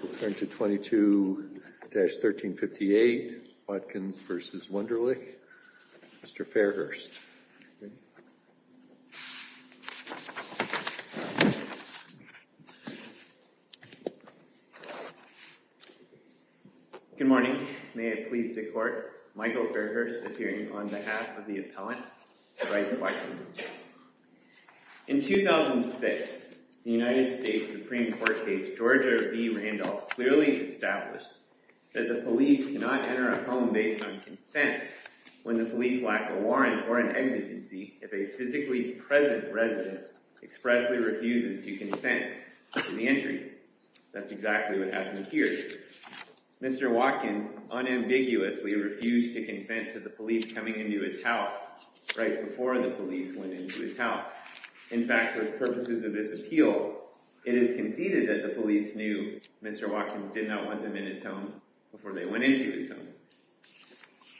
We'll turn to 22-1358, Watkins v. Wunderlich. Mr. Fairhurst. Good morning. May it please the Court, Michael Fairhurst appearing on behalf of the appellant, Bryce Watkins. In 2006, the United States Supreme Court case Georgia v. Randolph clearly established that the police cannot enter a home based on consent when the police lack a warrant or an exigency if a physically present resident expressly refuses to consent to the entry. That's exactly what happened here. Mr. Watkins unambiguously refused to consent to the police coming into his house right before the police went into his house. In fact, for purposes of this appeal, it is conceded that the police knew Mr. Watkins did not want them in his home before they went into his home.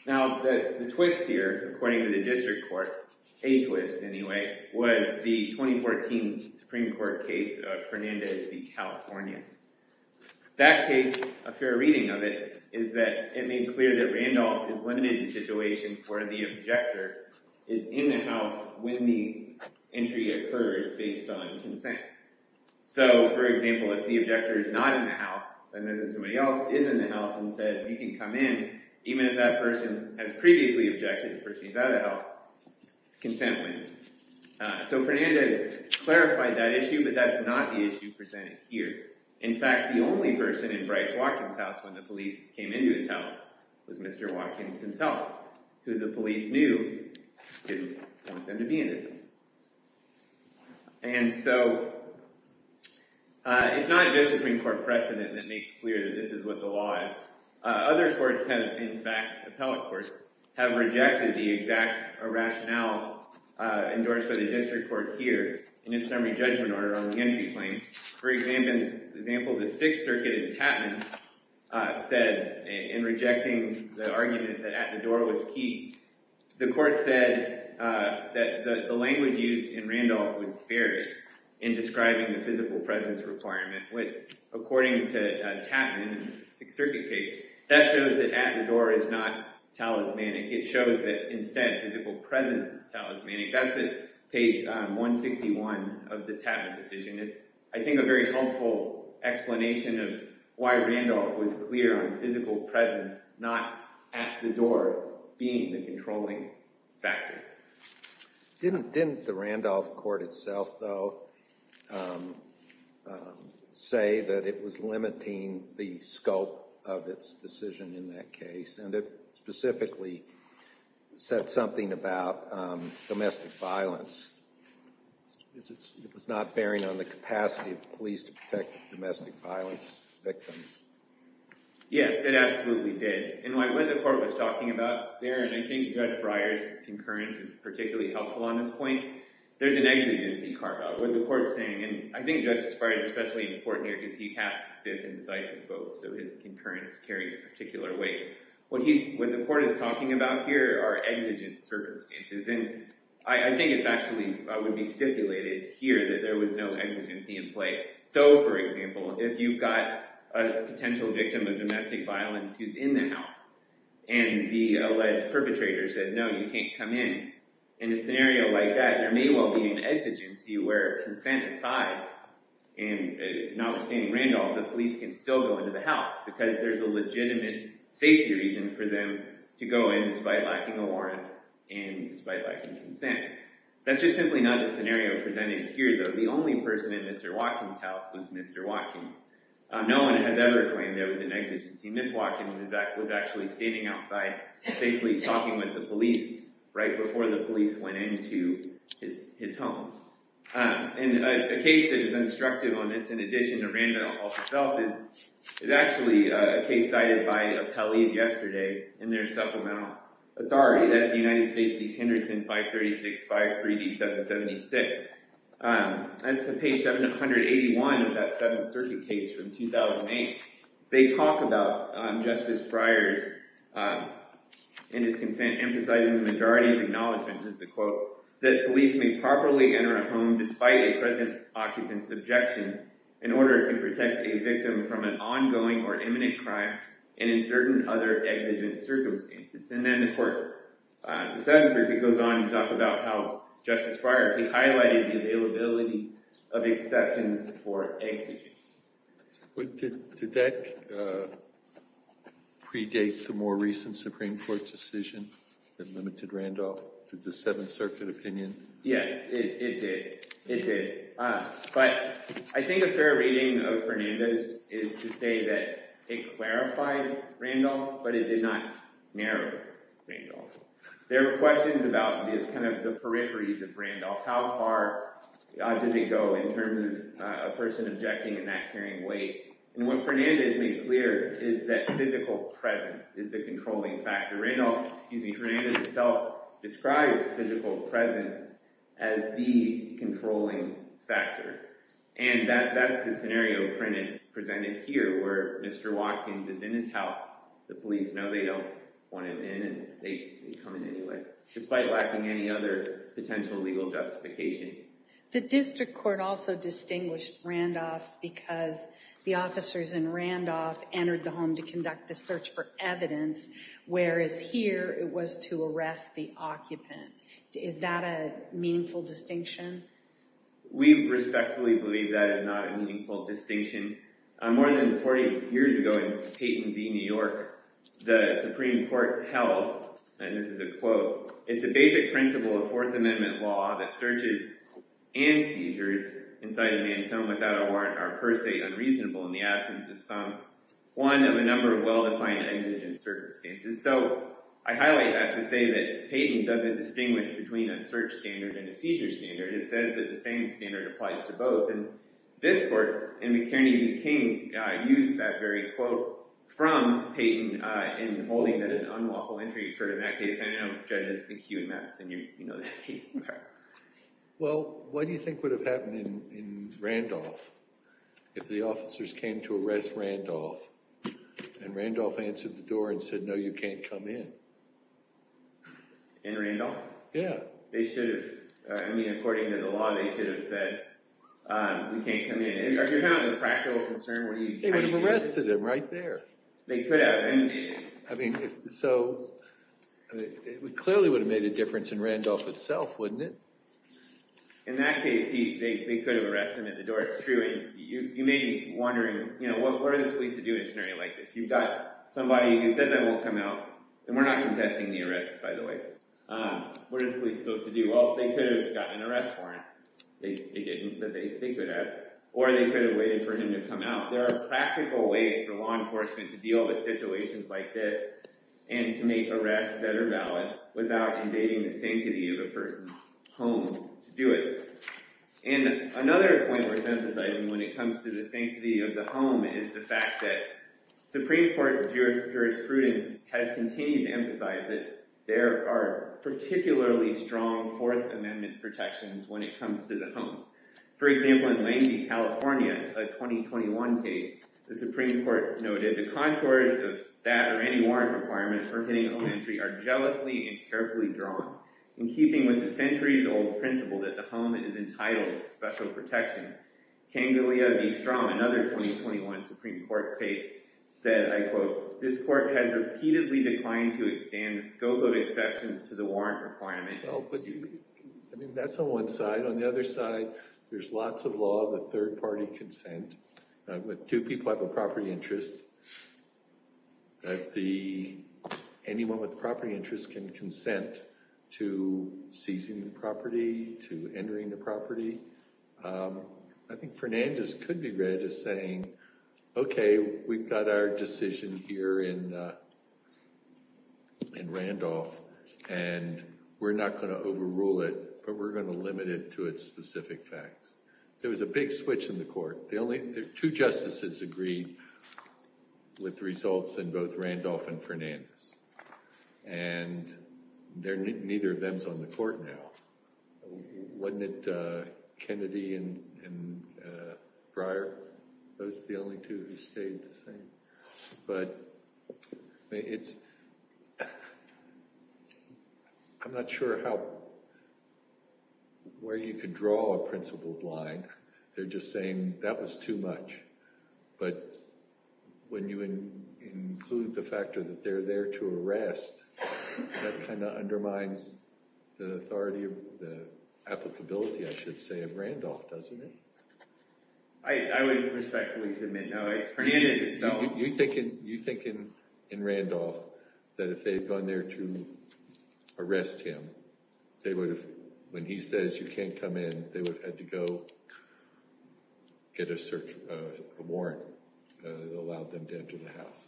Now, the twist here, according to the district court, a twist anyway, was the 2014 Supreme Court case of Fernandez v. California. That case, a fair reading of it, is that it made clear that Randolph is limited in situations where the objector is in the house when the entry occurs based on consent. So, for example, if the objector is not in the house and then somebody else is in the house and says, you can come in, even if that person has previously objected, the person is out of the house, consent wins. So Fernandez clarified that issue, but that's not the issue presented here. In fact, the only person in Bryce Watkins' house when the police came into his house was Mr. Watkins himself, who the police knew didn't want them to be in his house. And so it's not just a Supreme Court precedent that makes clear that this is what the law is. Other courts have, in fact, appellate courts, have rejected the exact rationale endorsed by the district court here in its summary judgment order on the entry claim. For example, the Sixth Circuit in Tappan said, in rejecting the argument that at the door was key, the court said that the language used in Randolph was varied in describing the physical presence requirement, which, according to Tappan in the Sixth Circuit case, that shows that at the door is not talismanic. It shows that, instead, physical presence is talismanic. That's at page 161 of the Tappan decision. It's, I think, a very helpful explanation of why Randolph was clear on physical presence not at the door being the controlling factor. Didn't the Randolph court itself, though, say that it was limiting the scope of its decision in that case? And it specifically said something about domestic violence. It was not bearing on the capacity of the police to protect domestic violence victims. Yes, it absolutely did. And what the court was talking about there, and I think Judge Breyer's concurrence is particularly helpful on this point, there's an exigency carve-out. What the court is saying, and I think Judge Breyer is especially important here because he cast the fifth indecisive vote, so his concurrence carries a particular weight. What the court is talking about here are exigent circumstances. And I think it actually would be stipulated here that there was no exigency in play. So, for example, if you've got a potential victim of domestic violence who's in the house and the alleged perpetrator says, no, you can't come in. In a scenario like that, there may well be an exigency where consent aside, and notwithstanding Randolph, the police can still go into the house because there's a legitimate safety reason for them to go in despite lacking a warrant and despite lacking consent. That's just simply not the scenario presented here, though. The only person in Mr. Watkins' house was Mr. Watkins. No one has ever claimed there was an exigency. Ms. Watkins was actually standing outside safely talking with the police right before the police went into his home. And a case that is instructive on this, in addition to Randolph himself, is actually a case cited by Appellees yesterday in their supplemental authority. That's the United States v. Henderson, 536-537-76. That's page 781 of that Seventh Circuit case from 2008. They talk about Justice Breyer's and his consent emphasizing the majority's acknowledgment, just to quote, that police may properly enter a home despite a present occupant's objection in order to protect a victim from an ongoing or imminent crime and in certain other exigent circumstances. And then the court, the Seventh Circuit goes on to talk about how Justice Breyer highlighted the availability of exceptions for exigencies. Did that predate the more recent Supreme Court decision that limited Randolph to the Seventh Circuit opinion? Yes, it did. It did. But I think a fair reading of Fernandez is to say that it clarified Randolph, but it did not narrow Randolph. There were questions about kind of the peripheries of Randolph. How far does it go in terms of a person objecting in that carrying weight? And what Fernandez made clear is that physical presence is the controlling factor. Randolph, excuse me, Fernandez himself described physical presence as the controlling factor. And that's the scenario presented here where Mr. Watkins is in his house. The police know they don't want him in and they come in anyway, despite lacking any other potential legal justification. The district court also distinguished Randolph because the officers in Randolph entered the home to conduct the search for evidence, whereas here it was to arrest the occupant. Is that a meaningful distinction? We respectfully believe that is not a meaningful distinction. More than 40 years ago in Payton v. New York, the Supreme Court held, and this is a quote, it's a basic principle of Fourth Amendment law that searches and seizures inside a man's home without a warrant are per se unreasonable in the absence of some, one of a number of well-defined exigent circumstances. So I highlight that to say that Payton doesn't distinguish between a search standard and a seizure standard. It says that the same standard applies to both. And this court in McKernan v. King used that very quote from Payton in holding that an unlawful entry occurred in that case. And I know judges McHugh and Mattson, you know that case. Well, what do you think would have happened in Randolph if the officers came to arrest Randolph and Randolph answered the door and said, no, you can't come in? In Randolph? Yeah. I mean, according to the law, they should have said, we can't come in. Are you having a practical concern? They would have arrested him right there. They could have. I mean, so it clearly would have made a difference in Randolph itself, wouldn't it? In that case, they could have arrested him at the door. It's true. And you may be wondering, what are the police to do in a scenario like this? You've got somebody who said they won't come out. And we're not contesting the arrest, by the way. What are the police supposed to do? Well, they could have gotten an arrest warrant. They didn't, but they could have. Or they could have waited for him to come out. There are practical ways for law enforcement to deal with situations like this and to make arrests that are valid without invading the sanctity of a person's home to do it. And another point worth emphasizing when it comes to the sanctity of the home is the fact that Supreme Court jurisprudence has continued to emphasize that there are particularly strong Fourth Amendment protections when it comes to the home. For example, in Langby, California, a 2021 case, the Supreme Court noted the contours of that or any warrant requirement for hitting a home entry are jealously and carefully drawn in keeping with the centuries-old principle that the home is entitled to special protection. Kangalia V. Strom, another 2021 Supreme Court case, said, I quote, This court has repeatedly declined to expand the scope of exceptions to the warrant requirement. I mean, that's on one side. On the other side, there's lots of law that third-party consent. Two people have a property interest. Anyone with a property interest can consent to seizing the property, to entering the property. I think Fernandez could be read as saying, OK, we've got our decision here in Randolph, and we're not going to overrule it, but we're going to limit it to its specific facts. There was a big switch in the court. Two justices agreed with the results in both Randolph and Fernandez. And neither of them is on the court now. Wasn't it Kennedy and Breyer? Those are the only two who stayed the same. But it's – I'm not sure how – where you could draw a principle blind. They're just saying that was too much. But when you include the fact that they're there to arrest, that kind of undermines the authority, the applicability, I should say, of Randolph, doesn't it? I would respectfully submit no. You think in Randolph that if they had gone there to arrest him, they would have – when he says you can't come in, they would have had to go get a warrant that allowed them to enter the house?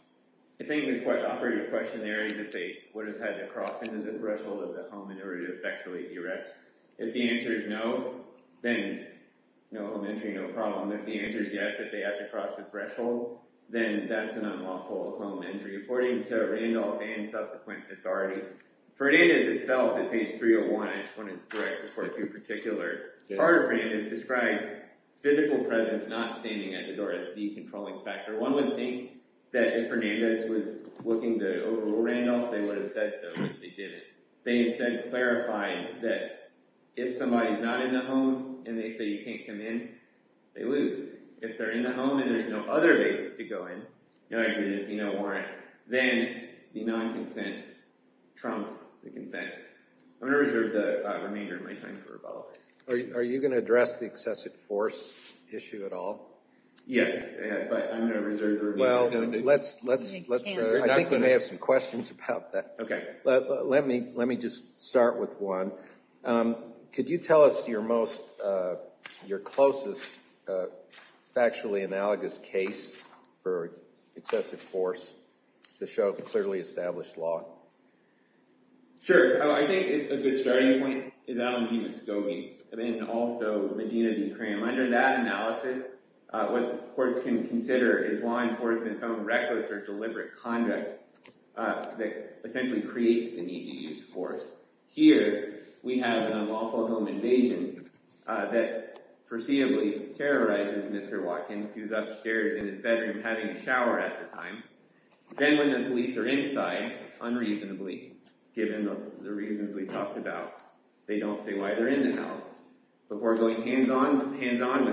I think the quite operative question there is if they would have had to cross into the threshold of the home in order to effectuate the arrest. If the answer is no, then no, elementary, no problem. If the answer is yes, if they have to cross the threshold, then that's an unlawful home entry according to Randolph and subsequent authority. Fernandez itself at page 301 – I just want to correct before I do particular – part of Fernandez described physical presence not standing at the door as the controlling factor. One would think that if Fernandez was looking to overrule Randolph, they would have said so, but they didn't. They instead clarified that if somebody's not in the home and they say you can't come in, they lose. If they're in the home and there's no other basis to go in, no executive, no warrant, then the non-consent trumps the consent. I'm going to reserve the remainder of my time for rebuttal. Are you going to address the excessive force issue at all? Yes, but I'm going to reserve the remainder. Well, let's – I think we may have some questions about that. Okay. Let me just start with one. Could you tell us your most – your closest factually analogous case for excessive force to show clearly established law? Sure. I think a good starting point is Adam Hino-Skogin, and then also Medina D'Ukraine. Under that analysis, what courts can consider is law enforcement's own reckless or deliberate conduct that essentially creates the need to use force. Here we have an unlawful home invasion that preceding terrorizes Mr. Watkins, who's upstairs in his bedroom having a shower at the time. Then when the police are inside, unreasonably, given the reasons we talked about, they don't say why they're in the house. Before going hands-on with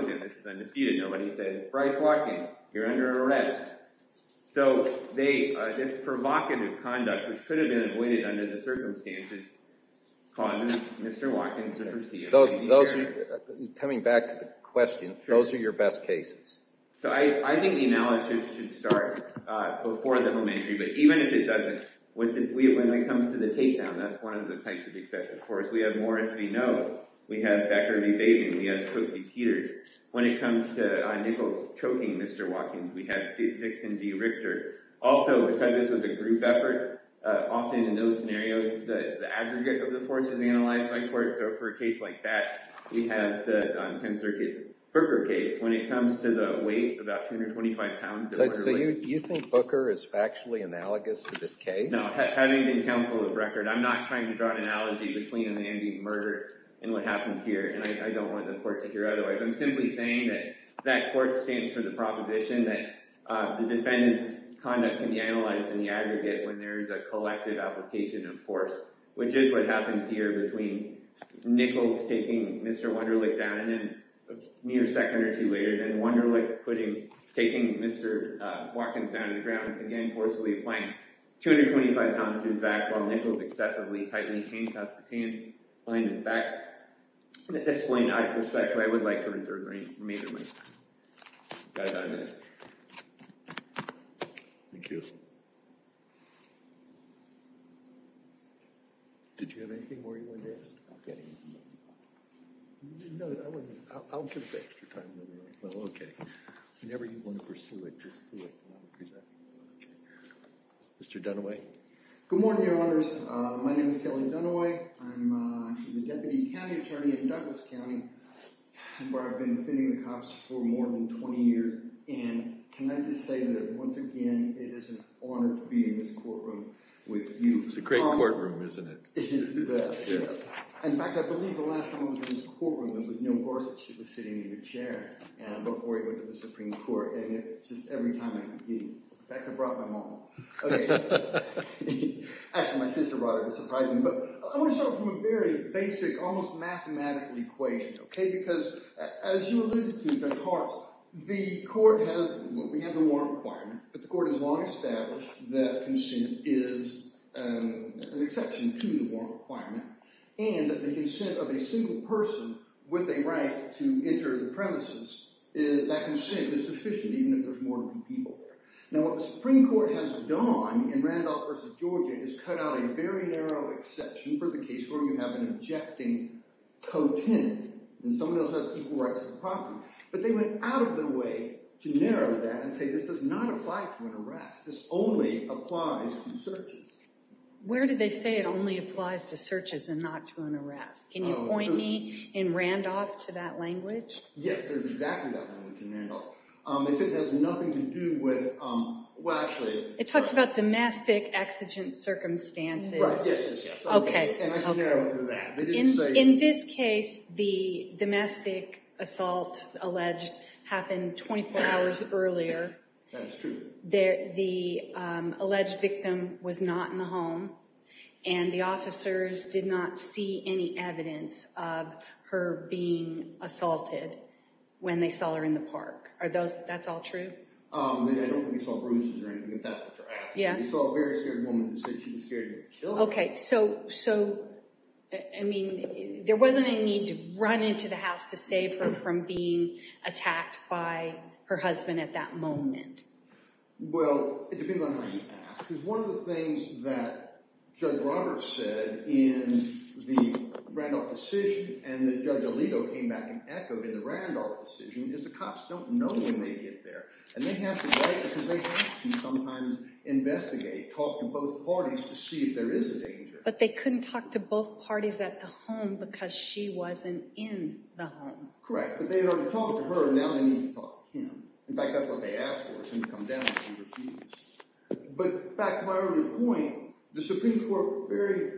him, this is undisputed, nobody said, Bryce Watkins, you're under arrest. So this provocative conduct, which could have been avoided under the circumstances, causes Mr. Watkins to proceed. Coming back to the question, those are your best cases? So I think the analysis should start before the home entry, but even if it doesn't, when it comes to the takedown, that's one of the types of excessive force. We have Morris v. Noe, we have Becker v. Bateman, we have Crook v. Peters. When it comes to Nichols choking Mr. Watkins, we have Dixon v. Richter. Also, because this was a group effort, often in those scenarios, the aggregate of the force is analyzed by courts. So for a case like that, we have the 10th Circuit Booker case. When it comes to the weight, about 225 pounds of water weight— So you think Booker is factually analogous to this case? No, having been counsel of the record, I'm not trying to draw an analogy between an ambient murder and what happened here, and I don't want the court to hear otherwise. I'm simply saying that that court stands for the proposition that the defendant's conduct can be analyzed in the aggregate when there is a collective application of force, which is what happened here between Nichols taking Mr. Wunderlich down, and then a mere second or two later, then Wunderlich taking Mr. Watkins down to the ground, again forcibly applying 225 pounds to his back, while Nichols excessively tightly chain-taps his hands behind his back. And at this point, I would like to reserve the remainder of my time. I've got about a minute. Thank you. Did you have anything more you wanted to ask? No. I'll give you extra time. Whenever you want to pursue it, just do it. Mr. Dunaway? Good morning, Your Honors. My name is Kelly Dunaway. I'm actually the deputy county attorney in Douglas County, where I've been defending the cops for more than 20 years. And can I just say that, once again, it is an honor to be in this courtroom with you. It's a great courtroom, isn't it? It is the best, yes. In fact, I believe the last time I was in this courtroom, there was no horse. It was sitting in a chair before it went to the Supreme Court, and just every time I could get it. In fact, I brought my mom. Okay. Actually, my sister brought it. It surprised me. But I want to start from a very basic, almost mathematical equation, okay? Because, as you alluded to, Judge Hart, the court has a warrant requirement. But the court has long established that consent is an exception to the warrant requirement. And that the consent of a single person with a right to enter the premises, that consent is sufficient, even if there's more than two people there. Now, what the Supreme Court has done in Randolph v. Georgia is cut out a very narrow exception for the case where you have an objecting co-tenant. And someone else has equal rights to the property. But they went out of their way to narrow that and say this does not apply to an arrest. This only applies to searches. Where did they say it only applies to searches and not to an arrest? Can you point me in Randolph to that language? Yes, there's exactly that language in Randolph. They said it has nothing to do with – well, actually – It talks about domestic exigent circumstances. Right, yes, yes, yes. Okay. And I just narrowed it to that. In this case, the domestic assault alleged happened 24 hours earlier. That is true. The alleged victim was not in the home. And the officers did not see any evidence of her being assaulted when they saw her in the park. Are those – that's all true? I don't think they saw bruises or anything, if that's what you're asking. Yes. They saw a very scared woman and said she was scared to kill her. Okay. So, I mean, there wasn't a need to run into the house to save her from being attacked by her husband at that moment. Well, it depends on how you ask. Because one of the things that Judge Roberts said in the Randolph decision and that Judge Alito came back and echoed in the Randolph decision is the cops don't know when they get there. And they have to write because they have to sometimes investigate, talk to both parties to see if there is a danger. But they couldn't talk to both parties at the home because she wasn't in the home. Correct. But they had already talked to her and now they need to talk to him. In fact, that's what they asked for, for him to come down and see if she was there. But back to my earlier point, the Supreme Court very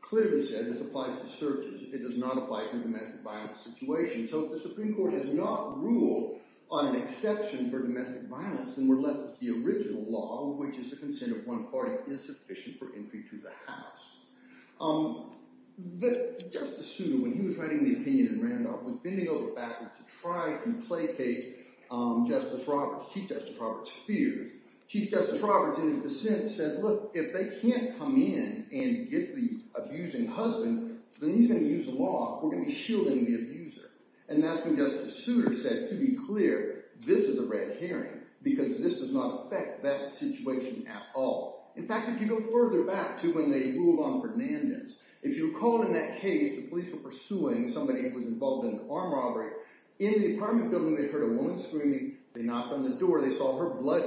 clearly said this applies to searches. It does not apply to domestic violence situations. So if the Supreme Court has not ruled on an exception for domestic violence, then we're left with the original law, which is the consent of one party is sufficient for entry to the house. Justice Souda, when he was writing the opinion in Randolph, was bending over backwards to try to placate Chief Justice Roberts' fears. Chief Justice Roberts, in his dissent, said, look, if they can't come in and get the abusing husband, then he's going to use the law. We're going to be shielding the abuser. And that's when Justice Souda said, to be clear, this is a red herring because this does not affect that situation at all. In fact, if you go further back to when they ruled on Fernandez, if you recall in that case, the police were pursuing somebody who was involved in an arm robbery. In the apartment building, they heard a woman screaming. They knocked on the door. They saw her blood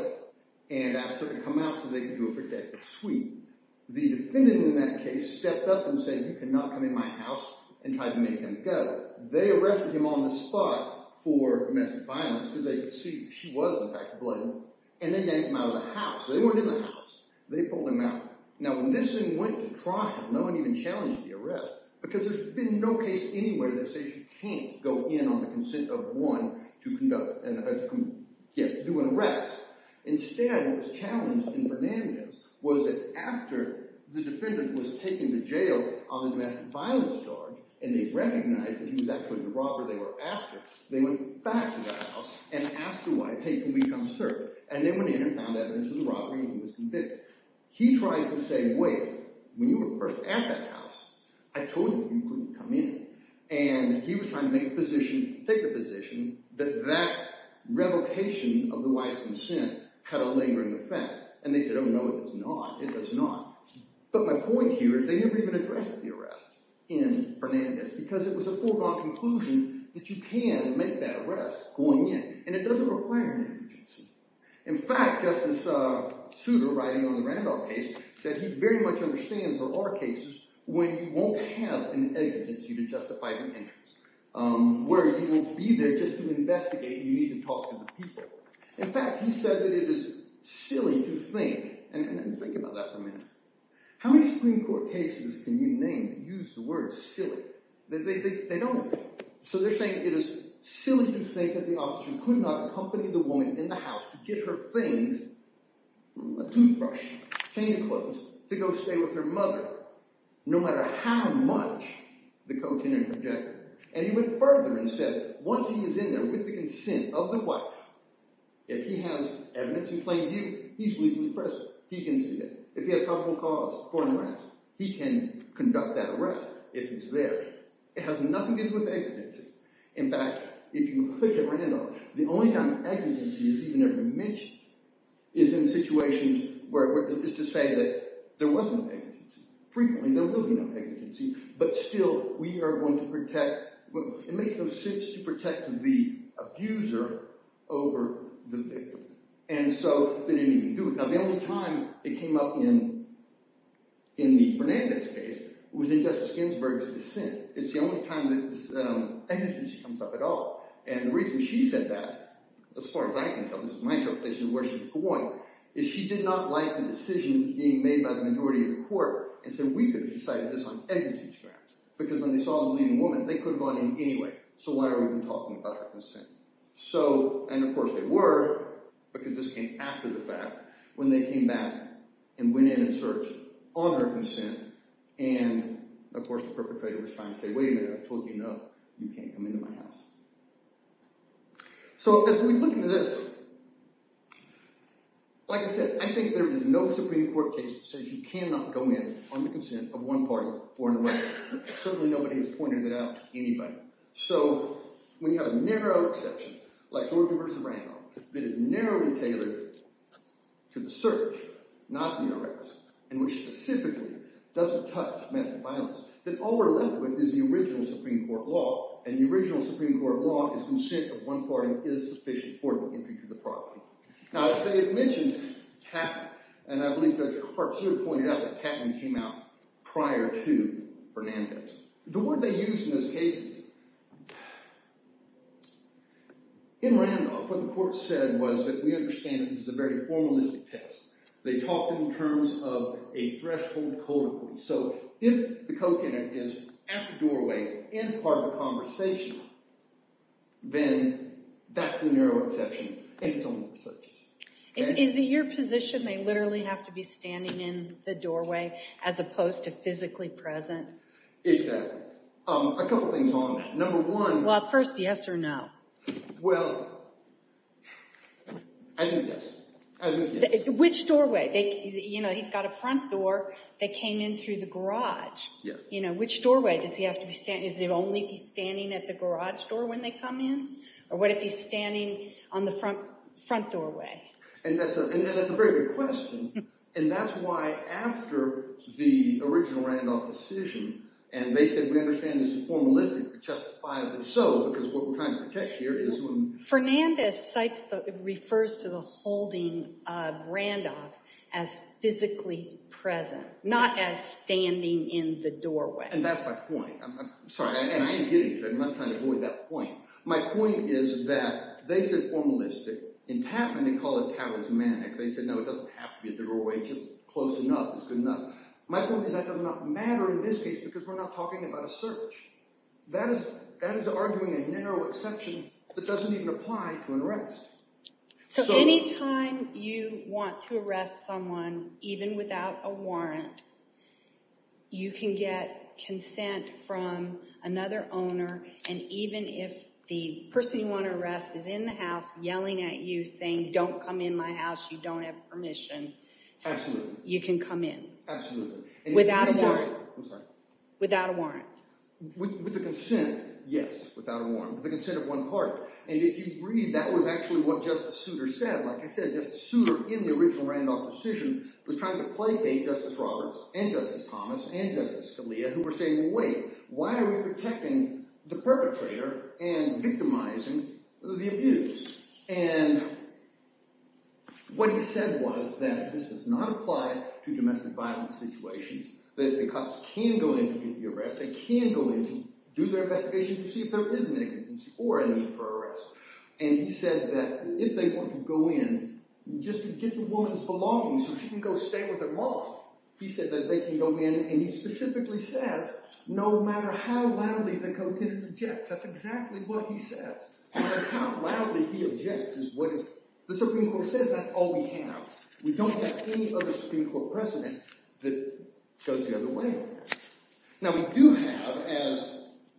and asked her to come out so they could do a protective sweep. The defendant in that case stepped up and said, you cannot come in my house and tried to make him go. They arrested him on the spot for domestic violence because they could see she was, in fact, ablaze. And they got him out of the house. They weren't in the house. They pulled him out. Now, when this thing went to trial, no one even challenged the arrest because there's been no case anyway that says you can't go in on the consent of one to do an arrest. Instead, what was challenged in Fernandez was that after the defendant was taken to jail on a domestic violence charge and they recognized that he was actually the robber they were after, they went back to that house and asked the wife, hey, can we come search? And they went in and found evidence of the robbery and he was convicted. He tried to say, wait, when you were first at that house, I told you you couldn't come in. And he was trying to take the position that that revocation of the wife's consent had a lingering effect. And they said, oh, no, it does not. It does not. But my point here is they never even addressed the arrest in Fernandez because it was a foregone conclusion that you can make that arrest going in. And it doesn't require an exigency. In fact, Justice Souter, writing on the Randolph case, said he very much understands there are cases when you won't have an exigency to justify the entrance, where you will be there just to investigate and you need to talk to the people. In fact, he said that it is silly to think, and think about that for a minute. How many Supreme Court cases can you name that use the word silly? They don't. So they're saying it is silly to think that the officer could not accompany the woman in the house to get her things, a toothbrush, change of clothes, to go stay with her mother no matter how much the co-tenured objected. And he went further and said once he is in there with the consent of the wife, if he has evidence in plain view, he's legally present. He can see it. If he has probable cause for an arrest, he can conduct that arrest if he's there. It has nothing to do with exigency. In fact, if you look at Randolph, the only time exigency is even ever mentioned is in situations where it is to say that there was no exigency. Frequently, there will be no exigency. But still, we are going to protect – it makes no sense to protect the abuser over the victim. And so they didn't even do it. Now, the only time it came up in the Fernandez case was in Justice Ginsburg's dissent. It's the only time that exigency comes up at all. And the reason she said that, as far as I can tell – this is my interpretation of where she was going – is she did not like the decision being made by the majority of the court and said we could have decided this on exigency grounds because when they saw the bleeding woman, they could have gone in anyway. So why are we even talking about her consent? And, of course, they were because this came after the fact when they came back and went in and searched on her consent. And, of course, the perpetrator was trying to say, wait a minute, I've told you enough. You can't come into my house. So as we look into this, like I said, I think there is no Supreme Court case that says you cannot go in on the consent of one party for an arrest. Certainly nobody has pointed it out to anybody. So when you have a narrow exception, like Georgia v. Randolph, that is narrowly tailored to the search, not the arrest, and which specifically doesn't touch domestic violence, then all we're left with is the original Supreme Court law. And the original Supreme Court law is consent of one party is sufficient for the entry to the property. Now, as I had mentioned, Katman – and I believe Judge Hart should have pointed out that Katman came out prior to Fernandez. The word they used in those cases – in Randolph, what the court said was that we understand that this is a very formalistic test. They talked in terms of a threshold code of conduct. So if the co-tenant is at the doorway and part of the conversation, then that's the narrow exception. And it's only for searches. Is it your position they literally have to be standing in the doorway as opposed to physically present? Exactly. A couple things on that. Number one – Well, first, yes or no? Well, I think yes. Which doorway? He's got a front door that came in through the garage. Yes. Which doorway does he have to be standing? Is it only if he's standing at the garage door when they come in? Or what if he's standing on the front doorway? And that's a very good question. And that's why after the original Randolph decision, and they said we understand this is formalistic, justifiable. So because what we're trying to protect here is when – Fernandez cites – refers to the holding of Randolph as physically present, not as standing in the doorway. And that's my point. I'm sorry. And I am getting to it. I'm not trying to avoid that point. My point is that they said formalistic. In Katman, they call it charismatic. They said, no, it doesn't have to be a doorway. It's just close enough. It's good enough. My point is that does not matter in this case because we're not talking about a search. That is arguing a narrow exception that doesn't even apply to an arrest. So anytime you want to arrest someone, even without a warrant, you can get consent from another owner. And even if the person you want to arrest is in the house yelling at you saying don't come in my house. You don't have permission. Absolutely. You can come in. Absolutely. Without a warrant. I'm sorry. Without a warrant. With the consent, yes. Without a warrant. With the consent of one party. And if you read, that was actually what Justice Souter said. Like I said, Justice Souter in the original Randolph decision was trying to placate Justice Roberts and Justice Thomas and Justice Scalia who were saying, well, wait. Why are we protecting the perpetrator and victimizing the abused? And what he said was that this does not apply to domestic violence situations. That the cops can go in to get the arrest. They can go in to do their investigation to see if there is an innocence or a need for arrest. And he said that if they want to go in just to get the woman's belongings so she can go stay with her mom, he said that they can go in. And he specifically says, no matter how loudly the co-tenant objects. That's exactly what he says. No matter how loudly he objects. The Supreme Court says that's all we have. We don't have any other Supreme Court precedent that goes the other way. Now, we do have, as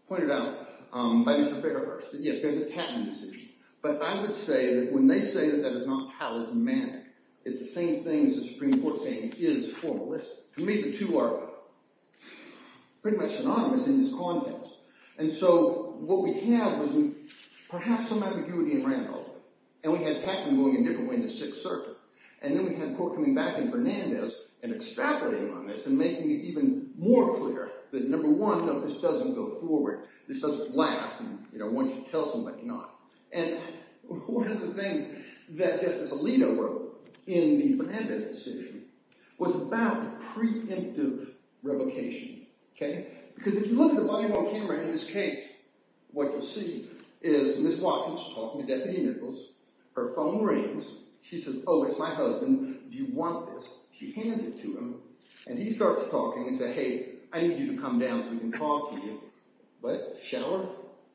pointed out by Mr. Bakerhurst, the Tappan decision. But I would say that when they say that that is not palismanic, it's the same thing as the Supreme Court saying it is formalistic. To me, the two are pretty much synonymous in this context. And so what we have is perhaps some ambiguity in Randolph. And we had Tappan going a different way in the Sixth Circuit. And then we had Cooke coming back in Fernandez and extrapolating on this and making it even more clear that, number one, no, this doesn't go forward. This doesn't last. And one should tell somebody not. And one of the things that Justice Alito wrote in the Fernandez decision was about the preemptive revocation. OK? Because if you look at the body-worn camera in this case, what you see is Ms. Watkins talking to Deputy Nichols. Her phone rings. She says, oh, it's my husband. Do you want this? She hands it to him. And he starts talking. He said, hey, I need you to come down so we can talk to you. What? Shower?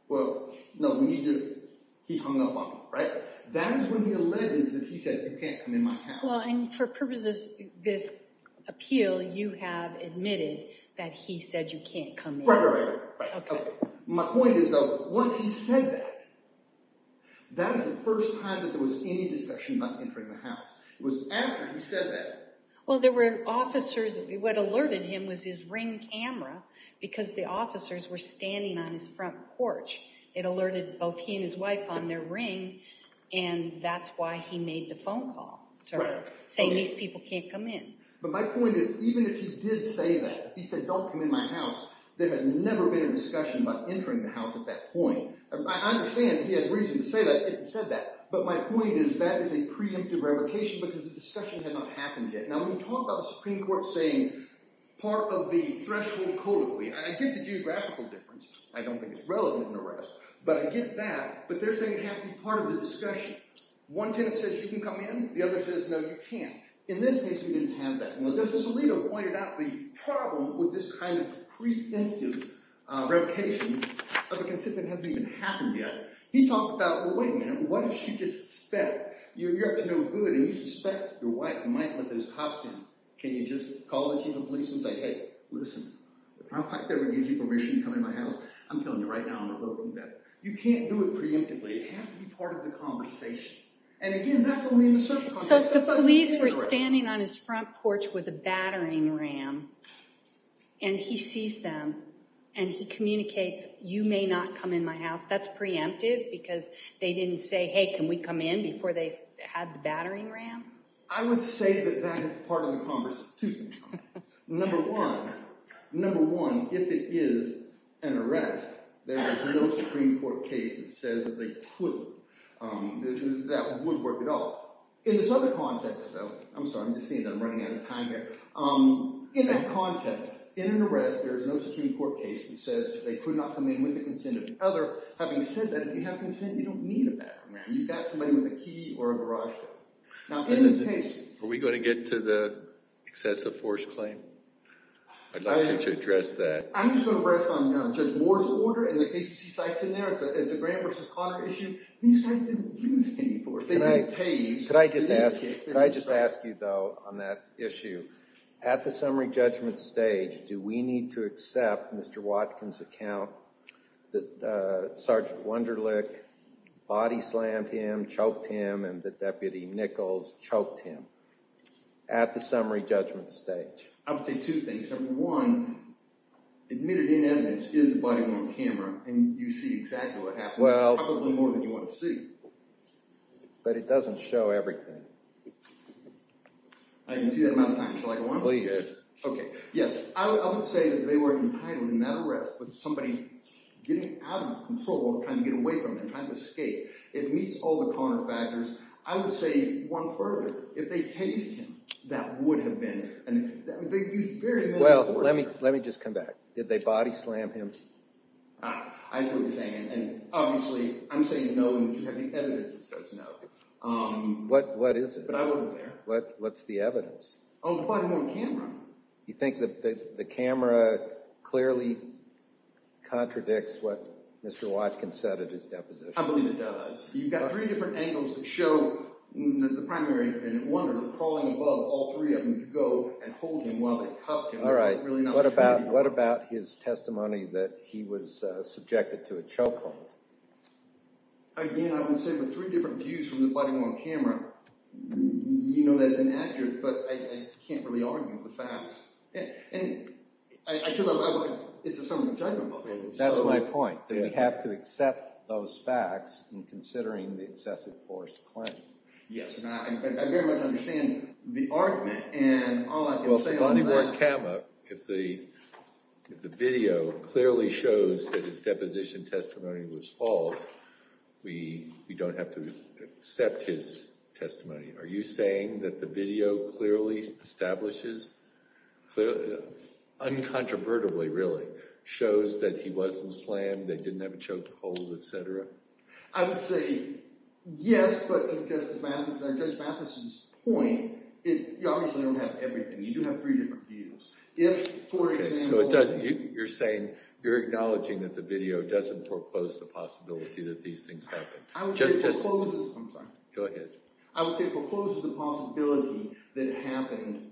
Well, no, he hung up on me. Right? That is when he alleged that he said, you can't come in my house. Well, and for purposes of this appeal, you have admitted that he said you can't come in. Right, right, right. OK. My point is, though, once he said that, that is the first time that there was any discussion about entering the house. It was after he said that. Well, there were officers. What alerted him was his ring camera, because the officers were standing on his front porch. It alerted both he and his wife on their ring. And that's why he made the phone call to her, saying these people can't come in. But my point is, even if he did say that, if he said, don't come in my house, there had never been a discussion about entering the house at that point. I understand he had reason to say that if he said that. But my point is, that is a preemptive revocation, because the discussion had not happened yet. Now, when you talk about the Supreme Court saying part of the threshold codically, I get the geographical difference. I don't think it's relevant in the rest. But I get that. But they're saying it has to be part of the discussion. One tenant says you can come in. The other says, no, you can't. In this case, we didn't have that. Justice Alito pointed out the problem with this kind of preemptive revocation of a consent that hasn't even happened yet. He talked about, well, wait a minute. What if you just suspect? You're up to no good, and you suspect your wife might let those cops in. Can you just call the chief of police and say, hey, listen, if I ever give you permission to come in my house, I'm telling you right now, I'm revoking that. You can't do it preemptively. It has to be part of the conversation. And again, that's only in a certain context. So if the police were standing on his front porch with a battering ram, and he sees them, and he communicates, you may not come in my house. That's preemptive because they didn't say, hey, can we come in before they had the battering ram? I would say that that is part of the conversation. Number one, if it is an arrest, there is no Supreme Court case that says that they couldn't. That would work at all. In this other context, though, I'm sorry. I'm just seeing that I'm running out of time here. In that context, in an arrest, there is no Supreme Court case that says they could not come in with the consent of the other. Having said that, if you have consent, you don't need a battering ram. You've got somebody with a key or a garage door. Now, in this case— Are we going to get to the excessive force claim? I'd like you to address that. I'm just going to rest on Judge Moore's order. In the case you see Sykes in there, it's a Grant v. Conner issue. These guys didn't use any force. Could I just ask you, though, on that issue? At the summary judgment stage, do we need to accept Mr. Watkins' account that Sergeant Wunderlich body slammed him, choked him, and that Deputy Nichols choked him? At the summary judgment stage. I would say two things. Number one, admitted in evidence is the body on camera, and you see exactly what happened, probably more than you want to see. But it doesn't show everything. I can see that amount of time. Shall I go on? Please do. Okay. Yes. I would say that they were entitled in that arrest with somebody getting out of control, trying to get away from them, trying to escape. It meets all the Conner factors. I would say one further, if they tased him, that would have been an—they used very little force. Well, let me just come back. Did they body slam him? I see what you're saying. And obviously, I'm saying no, and you have the evidence that says no. What is it? But I wasn't there. What's the evidence? The body on camera. You think that the camera clearly contradicts what Mr. Watkins said at his deposition? I believe it does. You've got three different angles that show the primary defendant, Wunderlich, crawling above all three of them to go and hold him while they cuffed him. All right. What about his testimony that he was subjected to a chokehold? Again, I would say with three different views from the body on camera, you know that it's inaccurate, but I can't really argue with the facts. And I feel like it's a sum of the judgment. That's my point, that we have to accept those facts in considering the excessive force claim. Yes, and I very much understand the argument, and all I can say on that— The body on camera, if the video clearly shows that his deposition testimony was false, we don't have to accept his testimony. Are you saying that the video clearly establishes—uncontrovertibly, really—shows that he wasn't slammed, they didn't have a chokehold, et cetera? I would say yes, but to Judge Mathison's point, you obviously don't have everything. You do have three different views. If, for example— Okay, so it doesn't—you're saying—you're acknowledging that the video doesn't foreclose the possibility that these things happened. I would say it forecloses—I'm sorry. Go ahead. I would say it forecloses the possibility that it happened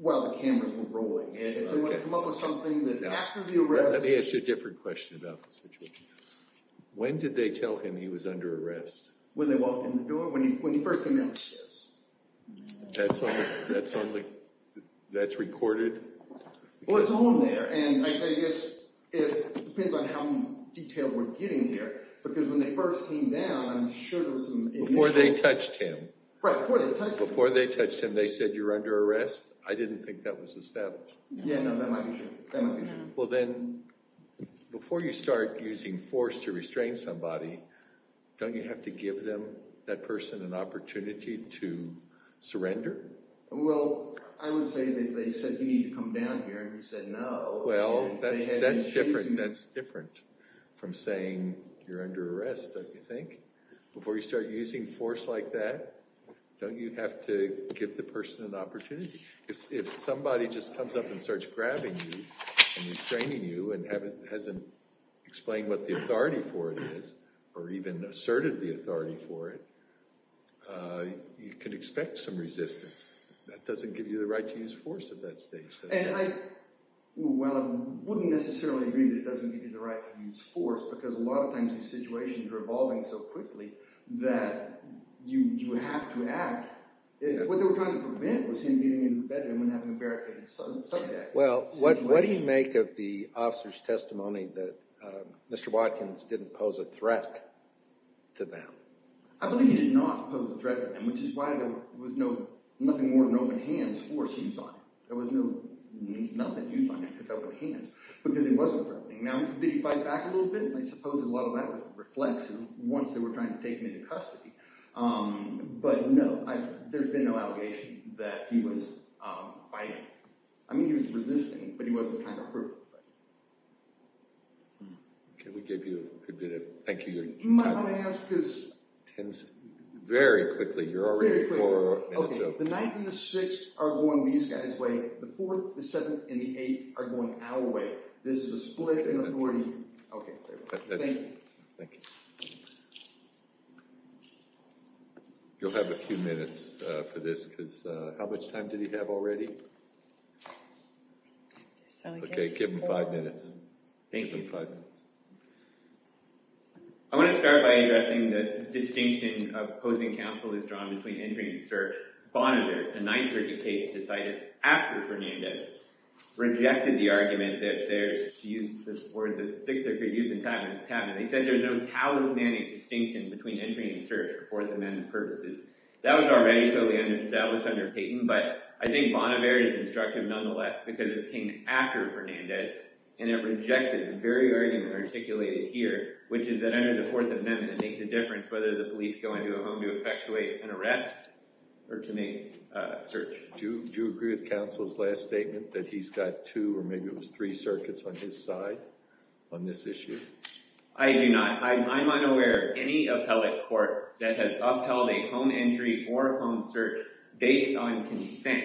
while the cameras were rolling. Okay. And if they want to come up with something that after the arrest— Let me ask you a different question about the situation. When did they tell him he was under arrest? When they walked in the door? When he first came down the stairs. That's on the—that's recorded? Well, it's on there, and I guess it depends on how detailed we're getting here because when they first came down, I'm sure there was some initial— Before they touched him. Right, before they touched him. Before they touched him, they said, you're under arrest? I didn't think that was established. Yeah, no, that might be true. That might be true. Well, then, before you start using force to restrain somebody, don't you have to give them, that person, an opportunity to surrender? Well, I would say that they said, you need to come down here, and he said no. Well, that's different. That's different from saying, you're under arrest, don't you think? Before you start using force like that, don't you have to give the person an opportunity? If somebody just comes up and starts grabbing you and restraining you and hasn't explained what the authority for it is, or even asserted the authority for it, you can expect some resistance. That doesn't give you the right to use force at that stage. Well, I wouldn't necessarily agree that it doesn't give you the right to use force because a lot of times these situations are evolving so quickly that you have to act. What they were trying to prevent was him getting in the bedroom and having a barricaded subject. Well, what do you make of the officer's testimony that Mr. Watkins didn't pose a threat to them? I believe he did not pose a threat to them, which is why there was nothing more than open hands for seized on him. There was nothing used on him except open hands because he wasn't threatening. Now, did he fight back a little bit? I suppose a lot of that was reflexive once they were trying to take him into custody. But no, there's been no allegation that he was fighting. I mean, he was resisting, but he wasn't trying to hurt anybody. Can we give you a minute? Thank you. Am I allowed to ask this? Very quickly. You're already four minutes in. The ninth and the sixth are going these guys' way. The fourth, the seventh, and the eighth are going our way. This is a split in authority. Okay, thank you. Thank you. You'll have a few minutes for this because how much time did he have already? Okay, give him five minutes. Thank you. I want to start by addressing this distinction opposing counsel is drawn between entering and search. Bonnevere, a Ninth Circuit case, decided after Fernandez, rejected the argument that there's, to use this word, the Sixth Circuit use in Tavern. They said there's no talismanic distinction between entering and search for Fourth Amendment purposes. That was already clearly established under Payton, but I think Bonnevere is instructive nonetheless because it came after Fernandez and it rejected the very argument articulated here, which is that under the Fourth Amendment, it makes a difference whether the police go into a home to effectuate an arrest or to make a search. Do you agree with counsel's last statement that he's got two or maybe it was three circuits on his side on this issue? I do not. I'm unaware of any appellate court that has upheld a home entry or a home search based on consent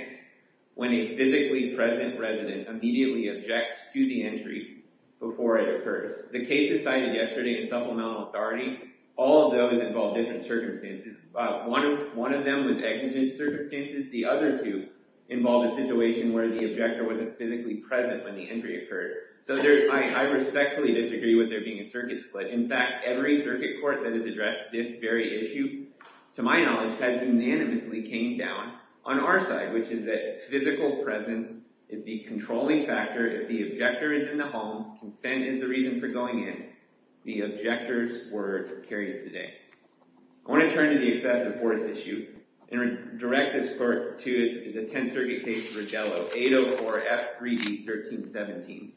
when a physically present resident immediately objects to the entry before it occurs. The cases cited yesterday in supplemental authority, all of those involved different circumstances. One of them was exigent circumstances. The other two involved a situation where the objector wasn't physically present when the entry occurred. So I respectfully disagree with there being a circuit split. In fact, every circuit court that has addressed this very issue, to my knowledge, has unanimously came down on our side, which is that physical presence is the controlling factor. If the objector is in the home, consent is the reason for going in. The objector's word carries the day. I want to turn to the excessive force issue and direct this court to the Tenth Circuit case Vergello, 804F3D1317.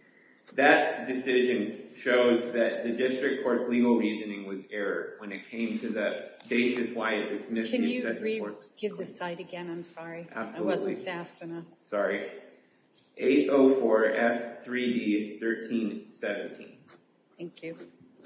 That decision shows that the district court's legal reasoning was error when it came to the basis why it dismissed the excessive force. Can you give the slide again? I'm sorry. I wasn't fast enough. Sorry. 804F3D1317. Thank you.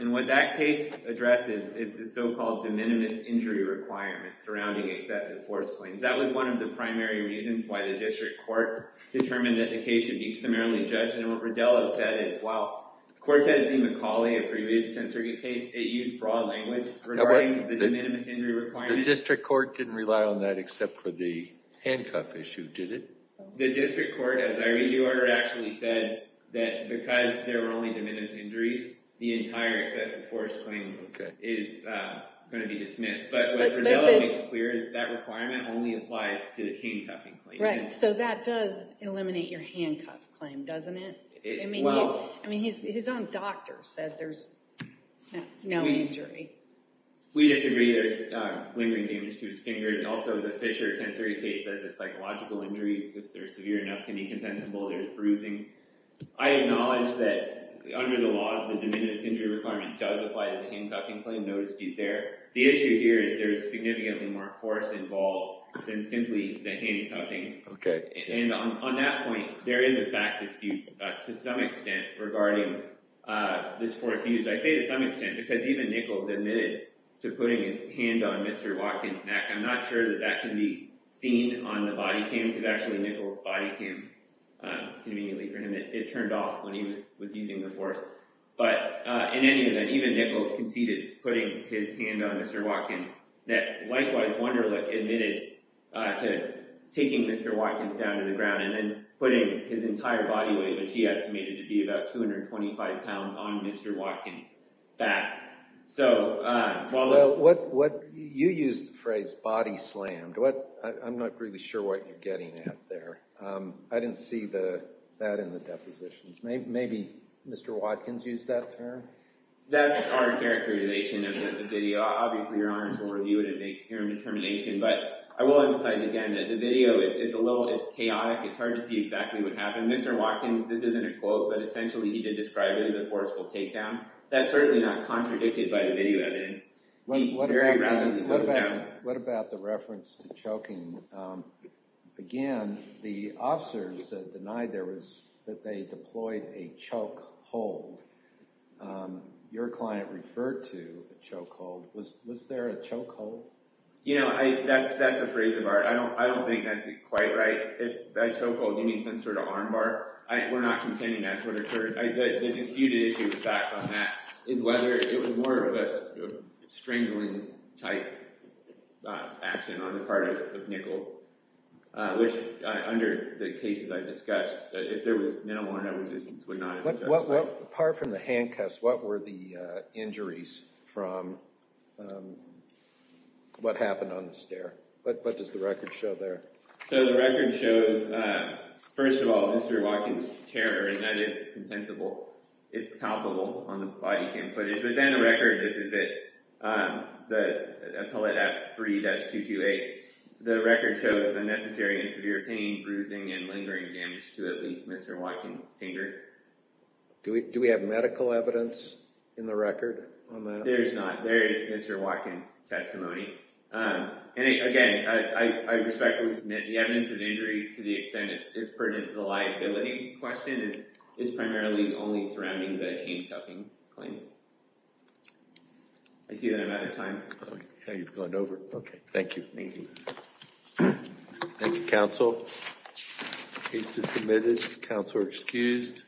And what that case addresses is the so-called de minimis injury requirement surrounding excessive force claims. That was one of the primary reasons why the district court determined that the case should be summarily judged and what Vergello said is, while Cortez v. McCauley, a previous Tenth Circuit case, it used broad language regarding the de minimis injury requirement. The district court didn't rely on that except for the handcuff issue, did it? The district court, as I read your order, actually said that because there were only de minimis injuries, the entire excessive force claim is going to be dismissed. But what Vergello makes clear is that requirement only applies to the handcuffing claim. Right. So that does eliminate your handcuff claim, doesn't it? I mean, his own doctor said there's no injury. We disagree. There's lingering damage to his finger. And also, the Fisher Tenth Circuit case says that psychological injuries, if they're severe enough, can be compensable. There's bruising. I acknowledge that under the law, the de minimis injury requirement does apply to the handcuffing claim. The issue here is there is significantly more force involved than simply the handcuffing. And on that point, there is a fact dispute to some extent regarding this force used. I say to some extent because even Nichols admitted to putting his hand on Mr. Watkins' neck. I'm not sure that that can be seen on the body cam because actually Nichols' body cam conveniently for him, it turned off when he was using the force. But in any event, even Nichols conceded putting his hand on Mr. Watkins' neck. Likewise, Wunderlich admitted to taking Mr. Watkins down to the ground and then putting his entire body weight, which he estimated to be about 225 pounds, on Mr. Watkins' back. You used the phrase body slammed. I'm not really sure what you're getting at there. I didn't see that in the depositions. Maybe Mr. Watkins used that term? That's our characterization of the video. Obviously, Your Honors will review it and make their own determination. But I will emphasize again that the video is chaotic. It's hard to see exactly what happened. Mr. Watkins, this isn't a quote, but essentially he did describe it as a forceful takedown. That's certainly not contradicted by the video evidence. What about the reference to choking? Again, the officers denied that they deployed a choke hold. Your client referred to a choke hold. Was there a choke hold? You know, that's a phrase of ours. I don't think that's quite right. If by choke hold you mean some sort of arm bar, we're not contending that's what occurred. The disputed issue with that is whether it was more of a strangling type action on the part of Nichols, which under the cases I discussed, if there was minimal or no resistance, would not have been justified. Apart from the handcuffs, what were the injuries from what happened on the stair? What does the record show there? So the record shows, first of all, Mr. Watkins' terror, and that is compensable. It's palpable on the body cam footage. But then the record, this is it, the appellate at 3-228. The record shows unnecessary and severe pain, bruising, and lingering damage to at least Mr. Watkins' finger. Do we have medical evidence in the record? There is not. There is Mr. Watkins' testimony. And again, I respectfully submit the evidence of injury to the extent it's pertinent to the liability question is primarily only surrounding the handcuffing claim. I see that I'm out of time. Okay, he's gone over. Okay, thank you. Thank you, counsel. Case is submitted. Counselor excused.